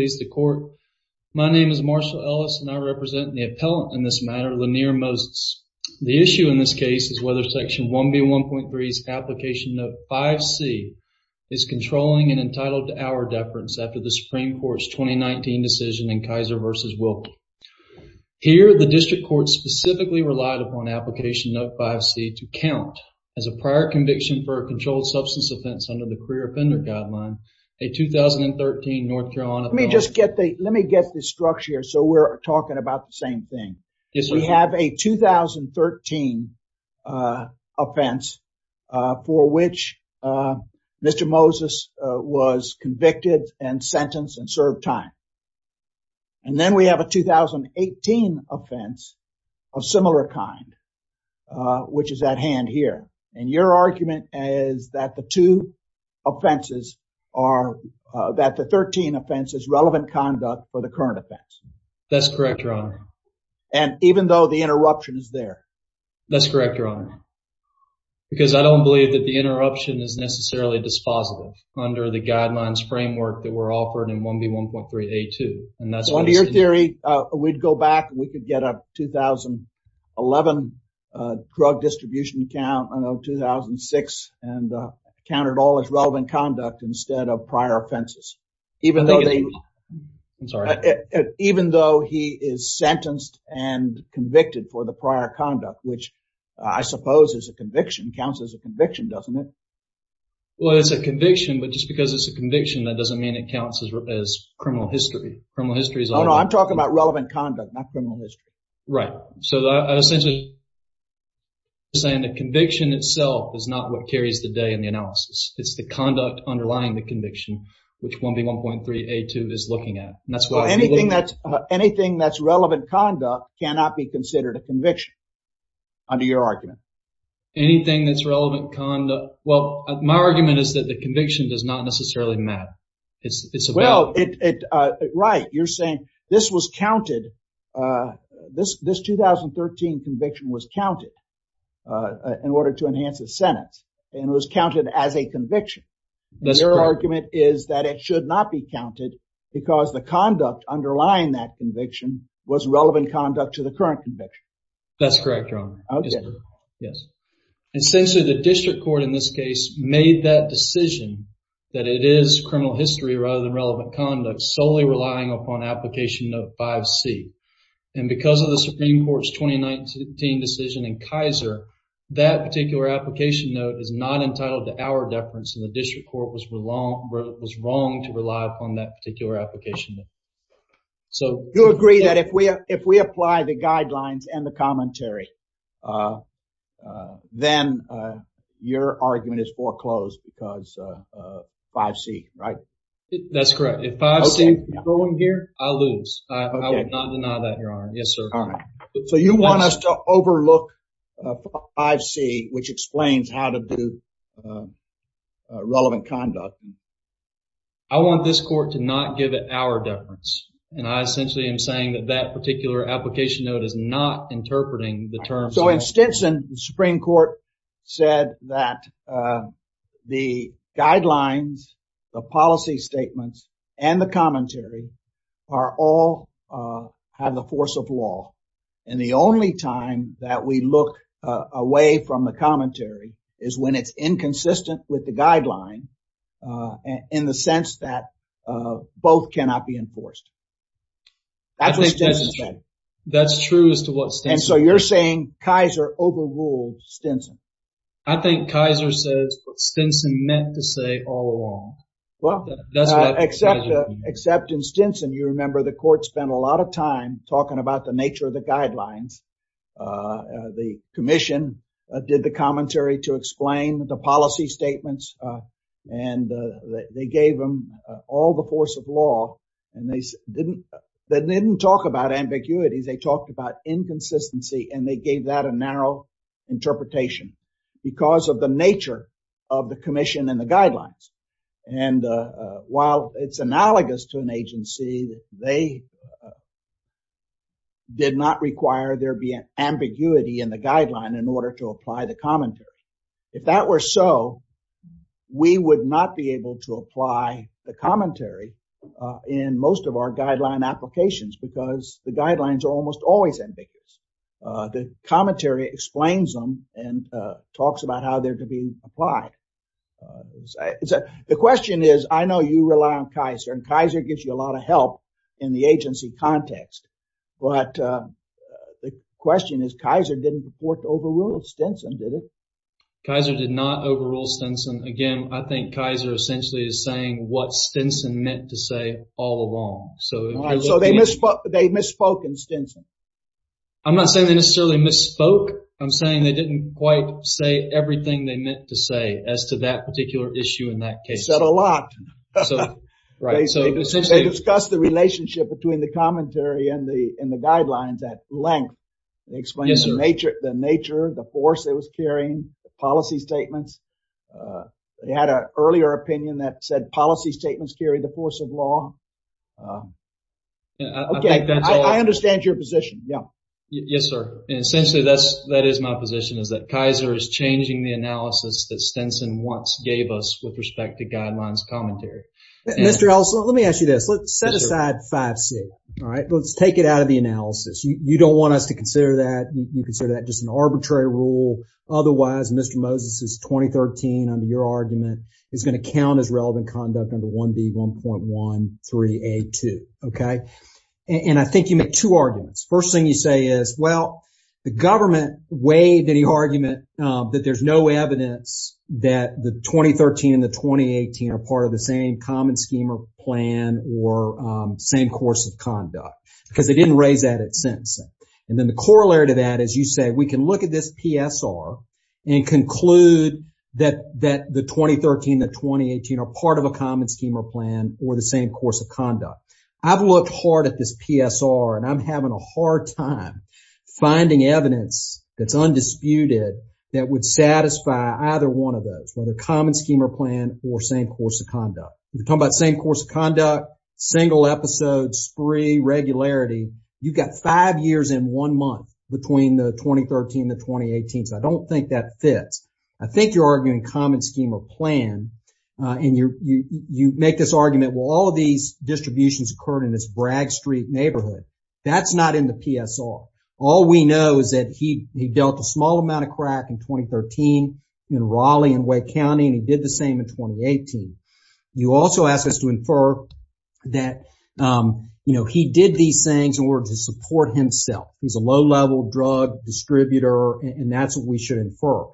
please the court. My name is Marshall Ellis and I represent the appellant in this matter Lenair Moses. The issue in this case is whether section 1B 1.3's application note 5c is controlling an entitled to hour deference after the Supreme Court's 2019 decision in Kaiser versus Wilkie. Here the district court specifically relied upon application note 5c to count as a prior conviction for a controlled substance offense under the career offender guideline a 2013 North Carolina. Let me just get the let me get the structure so we're talking about the same thing. Yes sir. We have a 2013 offense for which Mr. Moses was convicted and sentenced and served time and then we have a 2018 offense of similar kind which is at hand here and your argument is that the two offenses are that the 13 offense is relevant conduct for the current offense. That's correct your honor. And even though the interruption is there? That's correct your honor because I don't believe that the interruption is necessarily dispositive under the guidelines framework that were offered in 1B 1.3a 2. And that's what your theory we'd go back we could get a 2011 drug distribution count of 2006 and count it all as relevant conduct instead of prior offenses. Even though he is sentenced and convicted for the prior conduct which I suppose is a conviction counts as a conviction doesn't it? Well it's a conviction but just because it's a conviction that doesn't mean it counts as criminal history. I'm talking about saying the conviction itself is not what carries the day in the analysis. It's the conduct underlying the conviction which 1B 1.3a 2 is looking at. That's why anything that's anything that's relevant conduct cannot be considered a conviction under your argument. Anything that's relevant conduct well my argument is that the conviction does not necessarily matter. It's well it right you're saying this was counted this this 2013 conviction was counted in order to enhance the Senate and it was counted as a conviction. Your argument is that it should not be counted because the conduct underlying that conviction was relevant conduct to the current conviction. That's correct your honor. Okay yes and since the district court in this case made that decision that it is criminal history rather than relevant conduct solely relying upon application of 5C and because of the Supreme Court's 2019 decision in Kaiser that particular application note is not entitled to our deference and the district court was wrong to rely upon that particular application. So you agree that if we have if we apply the guidelines and the commentary then your argument is 5C right? That's correct. If 5C is going here I lose. I would not deny that your honor. Yes sir. All right so you want us to overlook 5C which explains how to do relevant conduct. I want this court to not give it our deference and I essentially am saying that that particular application note is not interpreting the term. So in guidelines the policy statements and the commentary are all have the force of law and the only time that we look away from the commentary is when it's inconsistent with the guideline and in the sense that both cannot be enforced. That's true as to what Stinson said. And so you're saying Kaiser overruled Stinson. I think Kaiser says what Stinson meant to say all along. Well except in Stinson you remember the court spent a lot of time talking about the nature of the guidelines. The Commission did the commentary to explain the policy statements and they gave them all the force of law and they didn't talk about ambiguity. They talked about inconsistency and they gave that a narrow interpretation. Because of the nature of the Commission and the guidelines. And while it's analogous to an agency they did not require there be an ambiguity in the guideline in order to apply the commentary. If that were so we would not be able to apply the commentary in most of our guideline applications because the guidelines are almost always ambiguous. The commentary explains them and talks about how they're being applied. The question is I know you rely on Kaiser and Kaiser gives you a lot of help in the agency context. But the question is Kaiser didn't report overruled Stinson did it? Kaiser did not overrule Stinson. Again I think Kaiser essentially is saying what Stinson meant to say all along. So they misspoke in Stinson. I'm not saying they necessarily misspoke. I'm saying they didn't quite say everything they meant to say as to that particular issue in that case. They said a lot. They discussed the relationship between the commentary and the guidelines at length. They explained the nature the force it was carrying policy statements. They had an earlier opinion that said policy statements carry the force of law. Okay I understand your position. Yeah. Yes sir. Essentially that's that is my position is that Kaiser is changing the analysis that Stinson once gave us with respect to guidelines commentary. Mr. Ellison let me ask you this. Let's set aside 5C. All right. Let's take it out of the analysis. You don't want us to consider that. You consider that just an arbitrary rule. Otherwise Mr. Moses is 2013 under your argument is going to count as relevant conduct under 1B 1.13A2. Okay. And I think you make two arguments. First thing you say is well the government waived any argument that there's no evidence that the 2013 and the 2018 are part of the same common schema plan or same course of conduct because they didn't raise that at sentencing. And then the corollary to that is you say we can look at this PSR and conclude that that the 2013 the 2018 are part of a common schema plan or the and I'm having a hard time finding evidence that's undisputed that would satisfy either one of those. Whether common schema plan or same course of conduct. We're talking about same course of conduct, single episodes, spree, regularity. You've got five years in one month between the 2013 the 2018. So I don't think that fits. I think you're arguing common scheme or plan and you you make this argument well all of these distributions occurred in this Bragg Street neighborhood. That's not in the PSR. All we know is that he he dealt a small amount of crack in 2013 in Raleigh and Wake County and he did the same in 2018. You also ask us to infer that you know he did these things in order to support himself. He's a low-level drug distributor and that's what we should infer.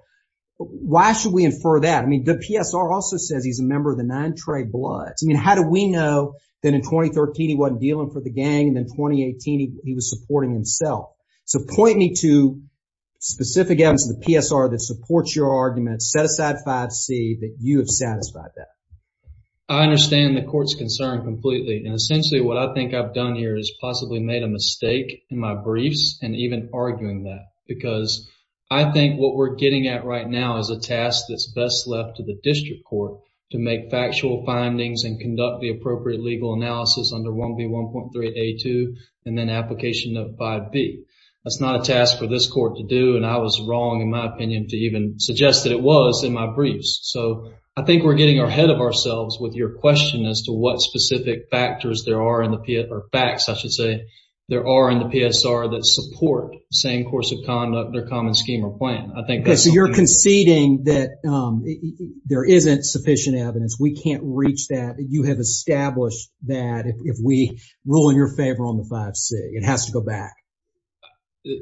Why should we infer that? I mean the PSR also says he's a member of the Nine Trey Bloods. I mean how do we know that in 2013 he wasn't dealing for the gang and in 2018 he was supporting himself. So point me to specific evidence in the PSR that supports your argument. Set aside 5C that you have satisfied that. I understand the court's concern completely and essentially what I think I've done here is possibly made a mistake in my briefs and even arguing that because I think what we're getting at right now is a task that's best left to the district court to make factual findings and conduct the appropriate legal analysis under 1B 1.3 A2 and then application of 5B. That's not a task for this court to do and I was wrong in my opinion to even suggest that it was in my briefs. So I think we're getting our head of ourselves with your question as to what specific factors there are in the P or facts I should say there are in the PSR that support same course of conduct their common scheme or plan. I think so you're conceding that there isn't sufficient evidence we can't establish that if we rule in your favor on the 5C. It has to go back.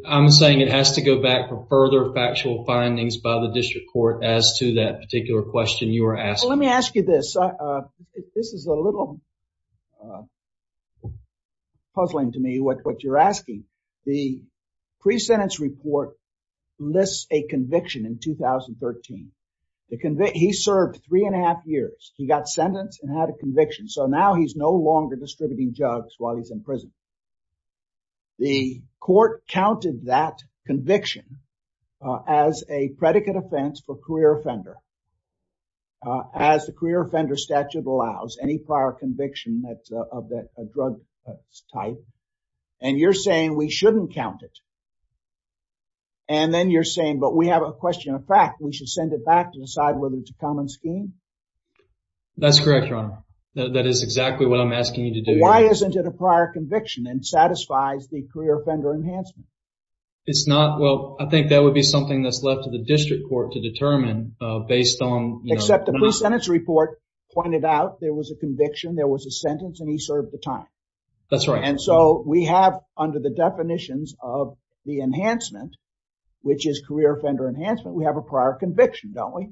I'm saying it has to go back for further factual findings by the district court as to that particular question you are asking. Let me ask you this. This is a little puzzling to me what you're asking. The pre-sentence report lists a conviction in 2013. He served three and a half years. He got sentenced and had a conviction. So now he's no longer distributing drugs while he's in prison. The court counted that conviction as a predicate offense for career offender as the career offender statute allows any prior conviction that of that drug type and you're saying we shouldn't count it and then you're saying but we have a question of fact we should send it back to decide whether it's a common scheme? That's correct your honor. That is exactly what I'm asking you to do. Why isn't it a prior conviction and satisfies the career offender enhancement? It's not well I think that would be something that's left to the district court to determine based on. Except the pre-sentence report pointed out there was a conviction there was a sentence and he served the time. That's right. And so we have under the definitions of the enhancement which is career offender enhancement we have a prior conviction don't we?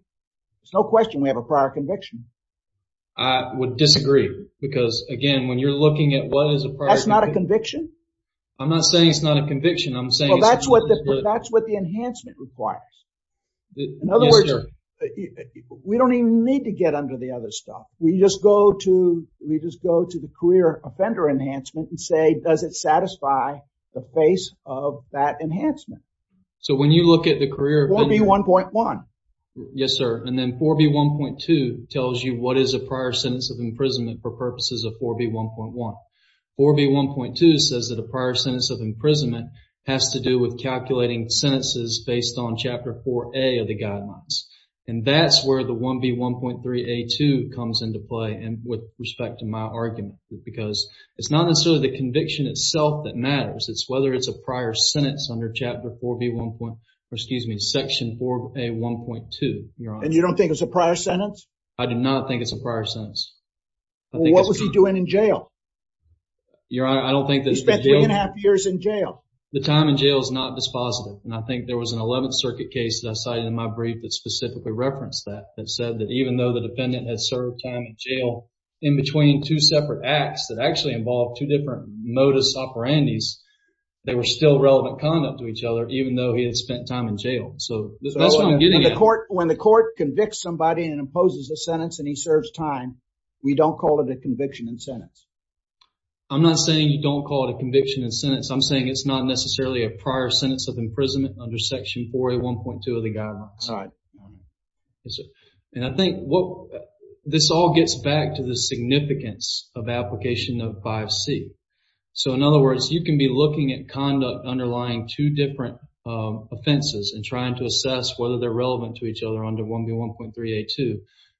It's no question we have a conviction. I would disagree because again when you're looking at what is a prior conviction. That's not a conviction? I'm not saying it's not a conviction I'm saying that's what that's what the enhancement requires. In other words we don't even need to get under the other stuff we just go to we just go to the career offender enhancement and say does it satisfy the face of that enhancement. So when you look at the career... 4B1.1. Yes sir and then 4B1.2 tells you what is a prior sentence of imprisonment for purposes of 4B1.1. 4B1.2 says that a prior sentence of imprisonment has to do with calculating sentences based on chapter 4A of the guidelines and that's where the 1B1.3A2 comes into play and with respect to my argument because it's not necessarily the conviction itself that matters it's whether it's a prior sentence under chapter 4B1 point or excuse me section 4A1.2. And you don't think it's a prior sentence? I do not think it's a prior sentence. What was he doing in jail? Your honor I don't think he spent three and a half years in jail. The time in jail is not dispositive and I think there was an 11th Circuit case that I cited in my brief that specifically referenced that that said that even though the defendant has served time in jail in between two separate acts that actually involved two soporandis they were still relevant conduct to each other even though he had spent time in jail so that's what I'm getting at. When the court convicts somebody and imposes a sentence and he serves time we don't call it a conviction in sentence? I'm not saying you don't call it a conviction in sentence I'm saying it's not necessarily a prior sentence of imprisonment under section 4A1.2 of the guidelines. All right. And I think what this all gets back to the significance of application of 5C. So in other words you can be looking at conduct underlying two different offenses and trying to assess whether they're relevant to each other under 1B1.3A2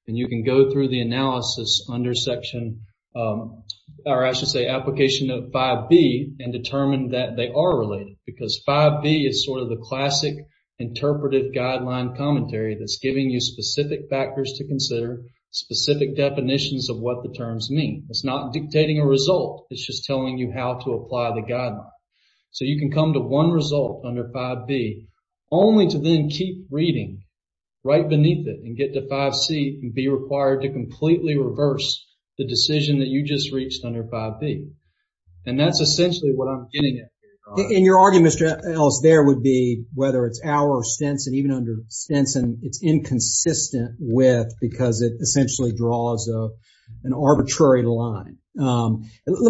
and you can go through the analysis under section or I should say application of 5B and determine that they are related because 5B is sort of the classic interpretive guideline commentary that's giving you specific factors to consider specific definitions of what the terms mean. It's not dictating a result it's just telling you how to apply the guideline. So you can come to one result under 5B only to then keep reading right beneath it and get to 5C and be required to completely reverse the decision that you just reached under 5B. And that's essentially what I'm getting at. In your argument Mr. Ellis there would be whether it's our or Stenson even under Stenson it's inconsistent with because it essentially draws a an arbitrary line. Let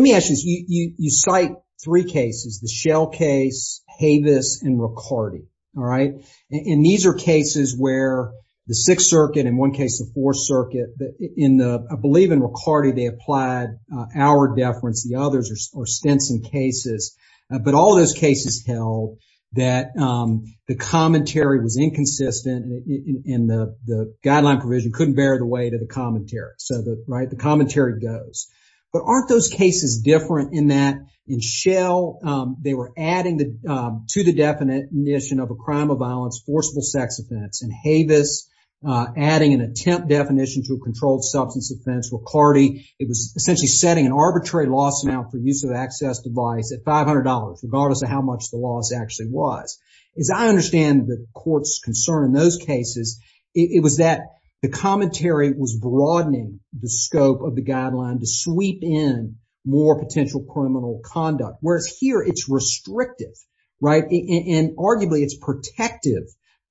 me ask you you cite three cases the Shell case Havis and Riccardi. All right. And these are cases where the Sixth Circuit in one case the Fourth Circuit in the I believe in Riccardi they applied our deference the others are Stenson cases. But all those cases held that the commentary was inconsistent in the guideline provision couldn't bear the weight of the commentary. So the right the commentary goes. But aren't those cases different in that in Shell they were adding the to the definition of a crime of violence forcible sex offense and Havis adding an attempt definition to a controlled substance offense. Riccardi it was essentially setting an arbitrary loss amount for use of access device at $500 regardless of how much the loss actually was. As I understand the court's concern in those cases it was that the commentary was broadening the scope of the guideline to sweep in more potential criminal conduct. Whereas here it's restrictive right and arguably it's protective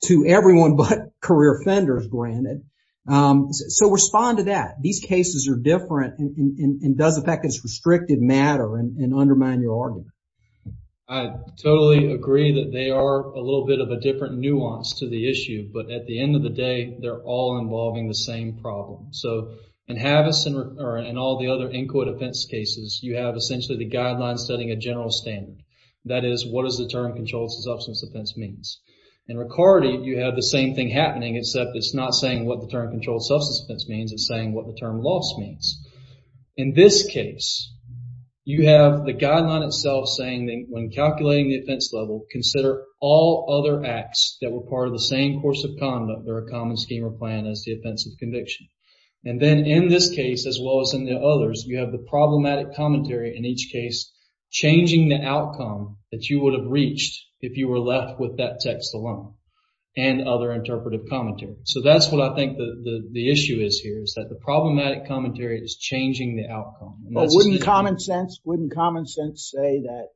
to everyone but career offenders granted. So respond to that. These cases are different and does the fact it's restrictive matter and undermine your argument. I totally agree that they are a little bit of a different nuance to the issue but at the end of the day they're all involving the same problem. So in Havis and all the other Inquit offense cases you have essentially the guidelines setting a general standard. That is what is the term controlled substance offense means. In Riccardi you have the same thing happening except it's not saying what the term controlled substance offense means it's saying what the term loss means. In this case you have the guideline itself saying that when calculating the offense level consider all other acts that were part of the same course of conduct or a common scheme or plan as the offensive conviction. And then in this case as well as in the others you have the problematic commentary in each case changing the outcome that you would have reached if you were left with that text alone and other interpretive commentary. So that's what I think the the issue is here is that the problematic commentary is changing the outcome. But wouldn't common sense wouldn't common sense say that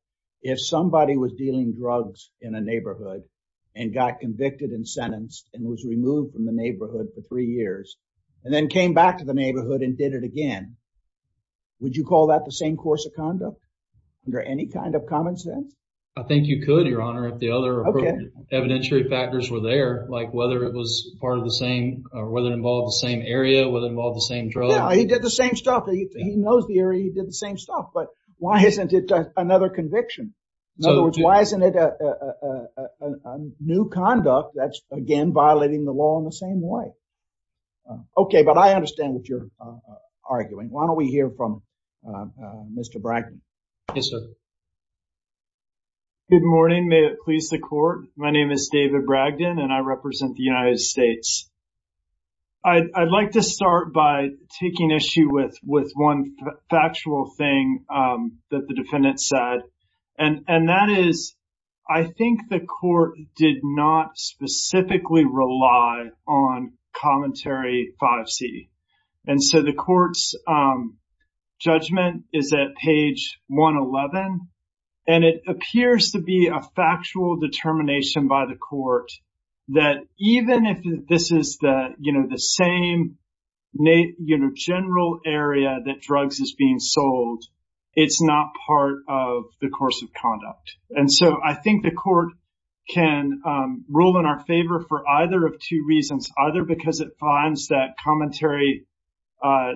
if somebody was dealing drugs in a neighborhood and got convicted and sentenced and was removed from the neighborhood for three years and then came back to the neighborhood and did it again would you call that the same course of conduct under any kind of common sense? I think you could your honor if the other evidentiary factors were there like whether it was part of the same or whether it involved the same area whether involved the same drug. He did the same stuff he knows the area he did the same stuff but why isn't it another conviction? In other words why isn't it a new conduct that's again violating the law in the same way? Okay but I understand what you're arguing why don't we hear from Mr. Bragdon. Yes sir. Good morning may it please the court my name is David Bragdon and I represent the United States. I'd like to start by taking issue with with one factual thing that the defendant said and and that is I think the court did not specifically rely on commentary 5c and so the court's judgment is at page 111 and it appears to be a factual determination by the general area that drugs is being sold it's not part of the course of conduct and so I think the court can rule in our favor for either of two reasons either because it finds that commentary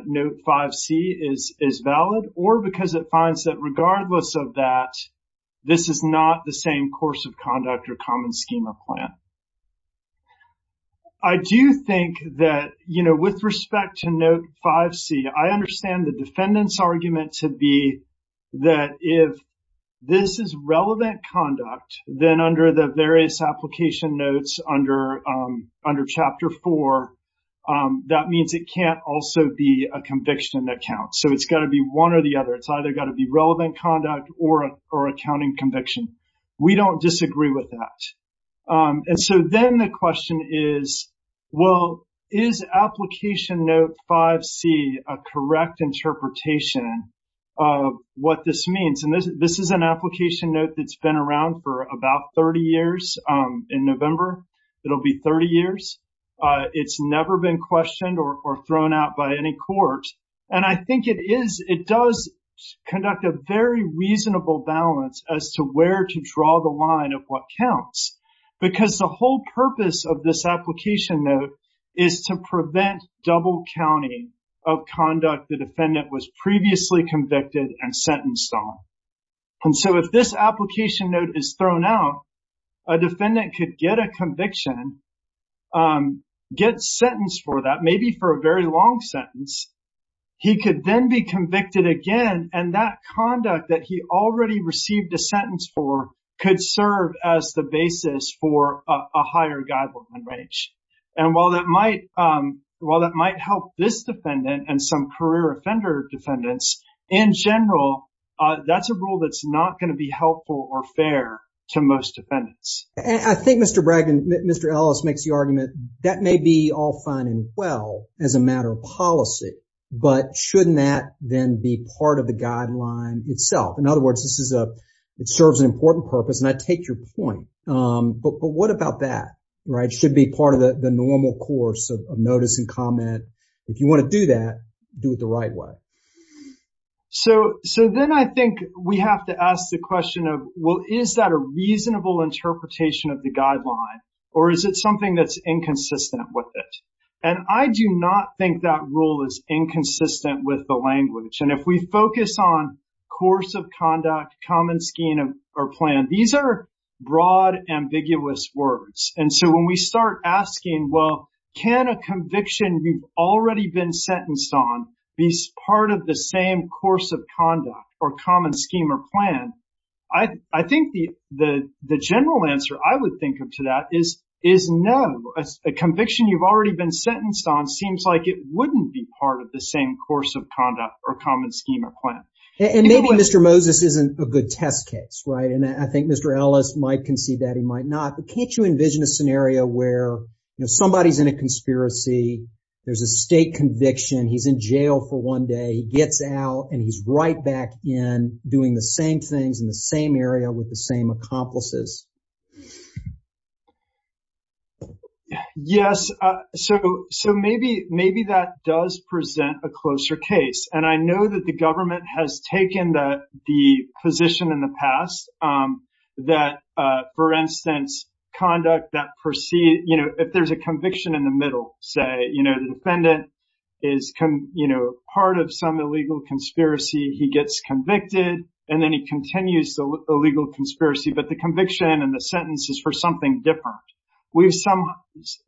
note 5c is is valid or because it finds that regardless of that this is not the same course of conduct or common schema plan. I do think that you know with respect to note 5c I understand the defendant's argument to be that if this is relevant conduct then under the various application notes under under chapter 4 that means it can't also be a conviction that counts so it's got to be one or the other it's either got to be relevant conduct or or accounting conviction we don't disagree with that and so then the question is well is application note 5c a correct interpretation of what this means and this is an application note that's been around for about 30 years in November it'll be 30 years it's never been questioned or thrown out by any court and I think it is it does conduct a very reasonable balance as to where to draw the line of what counts because the whole purpose of this application note is to prevent double counting of conduct the defendant was previously convicted and sentenced on and so if this application note is thrown out a defendant could get a conviction get sentenced for that maybe for a very long sentence he could then be convicted again and that conduct that he already received a sentence for could serve as the basis for a higher guideline range and while that might well that might help this defendant and some career offender defendants in general that's a rule that's not going to be helpful or fair to most defendants. I think Mr. Bragg and Mr. Ellis makes the argument that may be all fine and well as a matter of policy but shouldn't that then be part of the guideline itself in other words this is a it serves an important purpose and I take your point but what about that right should be part of the the normal course of notice and comment if you want to do that do it the right way. So so then I think we have to ask the question of well is that a rule that is inconsistent with it and I do not think that rule is inconsistent with the language and if we focus on course of conduct common scheme or plan these are broad ambiguous words and so when we start asking well can a conviction you've already been sentenced on these part of the same course of conduct or common scheme or plan I I think the the the general answer I would think of to that is is no a conviction you've already been sentenced on seems like it wouldn't be part of the same course of conduct or common scheme or plan. And maybe Mr. Moses isn't a good test case right and I think Mr. Ellis might concede that he might not but can't you envision a scenario where you know somebody's in a conspiracy there's a state conviction he's in jail for one day he gets out and he's right back in doing the same things in the same area with the same accomplices. Yes so so maybe maybe that does present a closer case and I know that the government has taken the position in the past that for instance conduct that proceed you know if there's a conviction in the middle say you know the defendant is come you know part of some illegal conspiracy he gets convicted and then he continues the legal conspiracy but the conviction and the sentence is for something different. We sometimes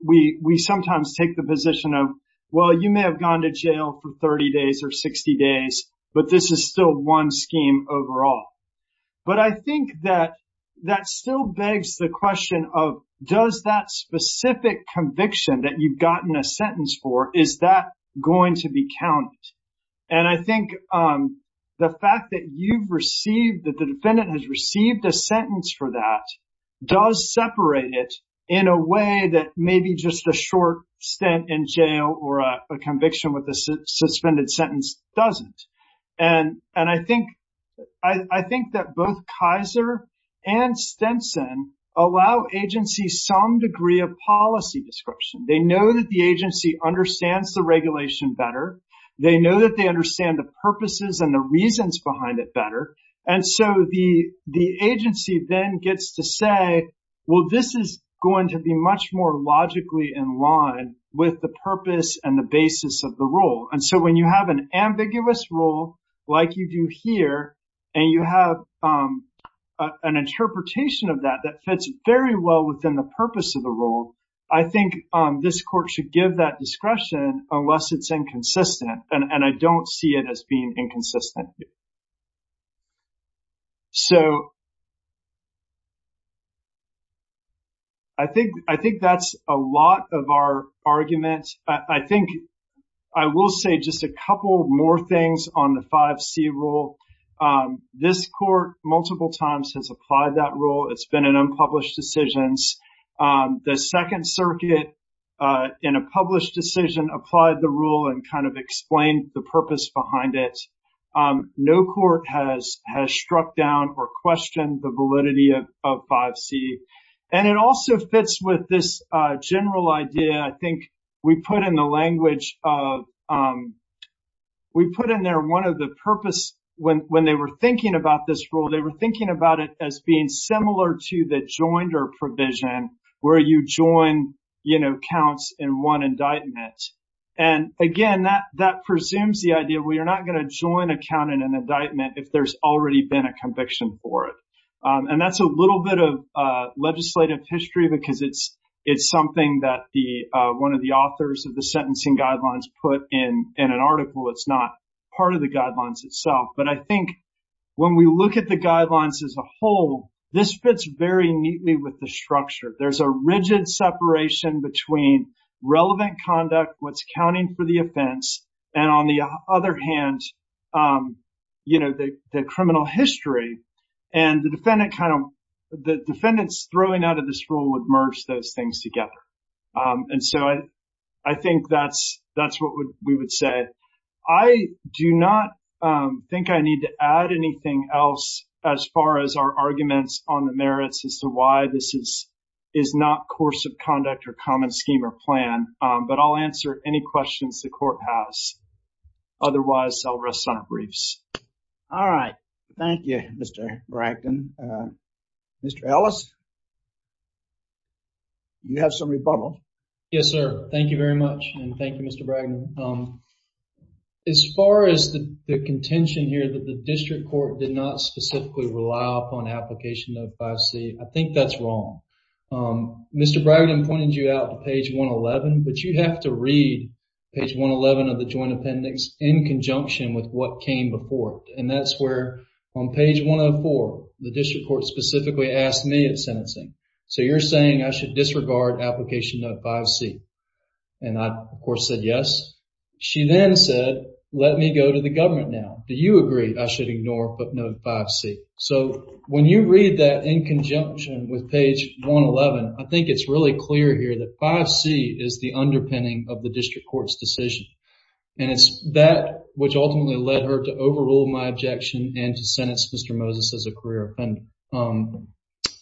take the position of well you may have gone to jail for 30 days or 60 days but this is still one scheme overall. But I think that that still begs the question of does that specific conviction that you've gotten a sentence for is that going to be counted and I think the fact that you've received that the defendant has received a sentence for that does separate it in a way that maybe just a short stint in jail or a conviction with a suspended sentence doesn't and and I think I think that both Kaiser and Stenson allow agency some degree of policy description they know that the agency understands the regulation better they know that they understand the purposes and the reasons behind it better and so the the agency then gets to say well this is going to be much more logically in line with the purpose and the basis of the rule and so when you have an ambiguous rule like you do here and you have an interpretation of that that fits very well within the purpose of the rule I think this court should give that discretion unless it's inconsistent and and I don't see it as being inconsistent so I think I think that's a lot of our arguments I think I will say just a couple more things on the 5c rule this court multiple times has applied that rule it's been an unpublished decisions the Second Circuit in a published decision applied the rule and kind of explained the purpose behind it no court has has struck down or questioned the validity of 5c and it also fits with this general idea I think we put in the language of we put in there one of the purpose when when they were thinking about this rule they were thinking about it as being similar to the joinder provision where you join you know counts in one indictment and again that that presumes the idea we are not going to join a count in an indictment if there's already been a conviction for it and that's a little bit of legislative history because it's it's something that the one of the authors of the sentencing guidelines put in in an article it's not part of the guidelines itself but I think when we look at the guidelines as a whole this fits very neatly with the structure there's a rigid separation between relevant conduct what's counting for the offense and on the other hand you know the criminal history and the defendant kind of the defendants throwing out of this rule would merge those things together and so I I think that's that's what we would say I do not think I need to add anything else as far as our arguments on the merits as to why this is is not course of conduct or common scheme or plan but I'll answer any questions the court has otherwise I'll rest on our briefs all right thank you mr. Bracken mr. Ellis you have some rebuttal yes sir thank you very much thank you mr. Bracken as far as the contention here that the district court did not specifically rely upon application of 5c I think that's wrong mr. Bracken pointed you out to page 111 but you have to read page 111 of the joint appendix in conjunction with what came before and that's where on page 104 the district court specifically asked me at sentencing so you're saying I should disregard application of 5c and I of course said yes she then said let me go to the government now do you agree I should ignore but note 5c so when you read that in conjunction with page 111 I think it's really clear here that 5c is the underpinning of the district court's decision and it's that which ultimately led her to overrule my objection and to sentence mr. Moses as a career offender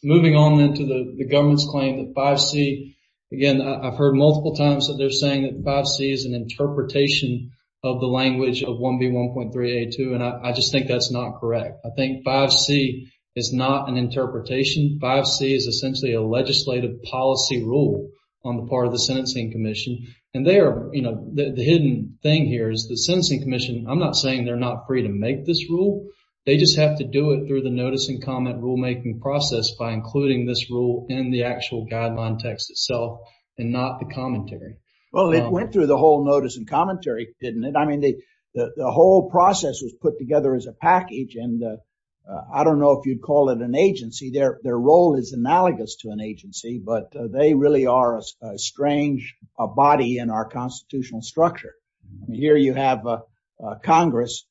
moving on into the government's claim that 5c again I've heard multiple times that they're saying that 5c is an interpretation of the language of 1b 1.3 a2 and I just think that's not correct I think 5c is not an interpretation 5c is essentially a legislative policy rule on the part of the sentencing Commission and there you know the hidden thing here is the sentencing Commission I'm not saying they're not free to make this rule they just have to do it through the notice and comment rulemaking process by including this rule in the actual guideline text itself and not the commentary well it went through the whole notice and commentary didn't it I mean they the whole process was put together as a package and I don't know if you'd call it an agency their their role is analogous to an agency but they really are a strange a body in our constitutional structure here you have Congress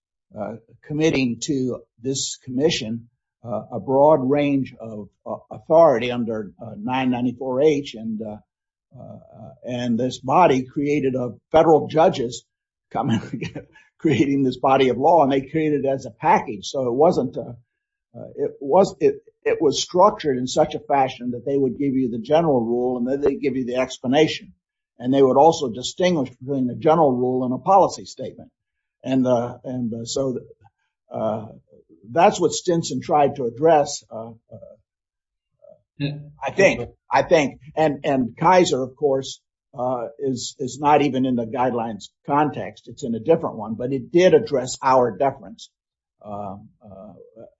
committing to this Commission a broad range of authority under 994 H and and this body created of federal judges coming creating this body of law and they created as a package so it wasn't it was it it was structured in such a fashion that they would give you the general rule and then they give you the explanation and they would also distinguish between the general rule and the policy statement and and so that's what Stinson tried to address I think I think and and Kaiser of course is is not even in the guidelines context it's in a different one but it did address our deference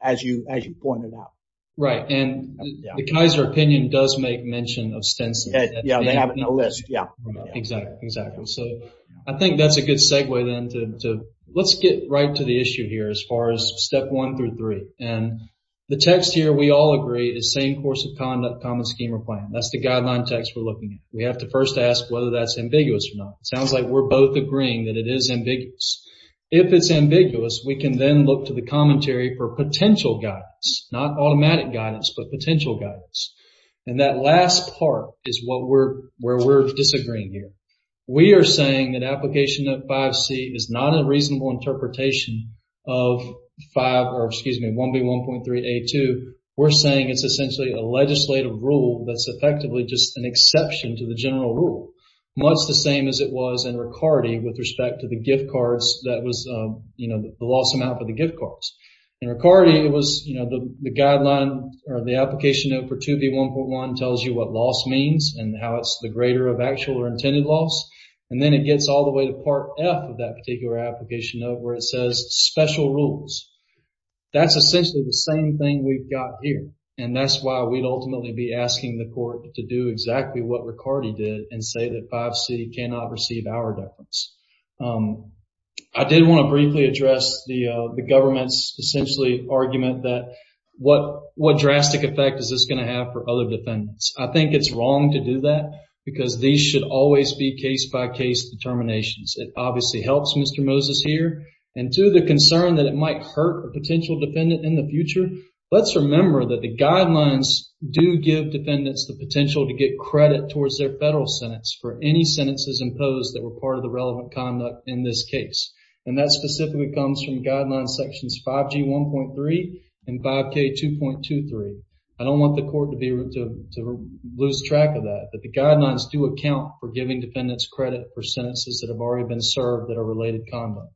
as you as you pointed out right and the Kaiser opinion does make mention of Stinson yeah they have it no let's get right to the issue here as far as step one through three and the text here we all agree is same course of conduct common scheme or plan that's the guideline text we're looking at we have to first ask whether that's ambiguous or not sounds like we're both agreeing that it is ambiguous if it's ambiguous we can then look to the commentary for potential guidance not automatic guidance but potential guidance and that last part is what we're where we're agreeing here we are saying that application of 5c is not a reasonable interpretation of 5 or excuse me 1 b 1.3 a 2 we're saying it's essentially a legislative rule that's effectively just an exception to the general rule what's the same as it was in Ricardi with respect to the gift cards that was you know the loss amount for the gift cards and Ricardi it was you know the guideline or the application of 4 2 b 1.1 tells you what loss means and how it's the greater of actual or intended loss and then it gets all the way to part F of that particular application of where it says special rules that's essentially the same thing we've got here and that's why we'd ultimately be asking the court to do exactly what Ricardi did and say that 5c cannot receive our deference I didn't want to briefly address the the government's essentially argument that what what drastic effect is this going to have for other defendants I think it's wrong to do that because these should always be case-by-case determinations it obviously helps mr. Moses here and to the concern that it might hurt a potential defendant in the future let's remember that the guidelines do give defendants the potential to get credit towards their federal sentence for any sentences imposed that were part of the relevant conduct in this case and that specifically comes from guidelines sections 5g 1.3 and 5k 2.2 3 I don't want the court to be to lose track of that but the guidelines do account for giving defendants credit for sentences that have already been served that are related conduct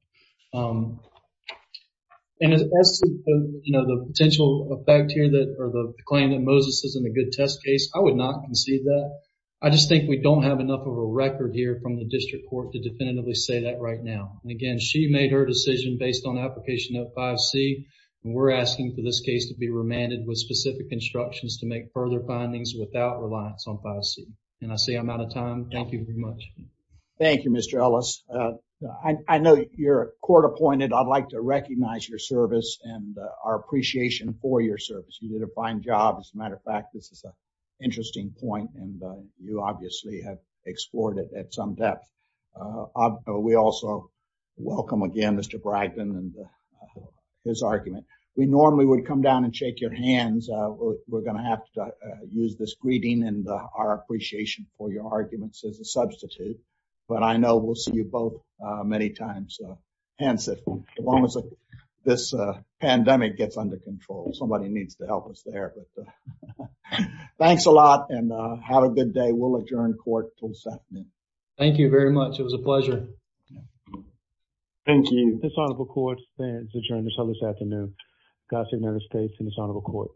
and as you know the potential effect here that or the claim that Moses isn't a good test case I would not concede that I just think we don't have enough of a record here from the district court to definitively say that right now and again she made her decision based on application of 5c and we're asking for this case to be remanded with specific instructions to make further findings without reliance on 5c and I say I'm out of time thank you very much Thank You mr. Ellis I know you're court-appointed I'd like to recognize your service and our appreciation for your service you did a fine job as a matter of fact this is a interesting point and you obviously have explored it at some depth we also welcome again mr. Bragdon and his argument we normally would come down and shake your hands we're gonna have to use this greeting and our appreciation for your arguments as a substitute but I know we'll see you both many times hence it almost like this pandemic gets under control somebody needs to help us there thanks a lot and have a good day we'll adjourn court till 7 a.m. thank you very much thank you this honorable court adjourns until this afternoon God save the United States and this honorable court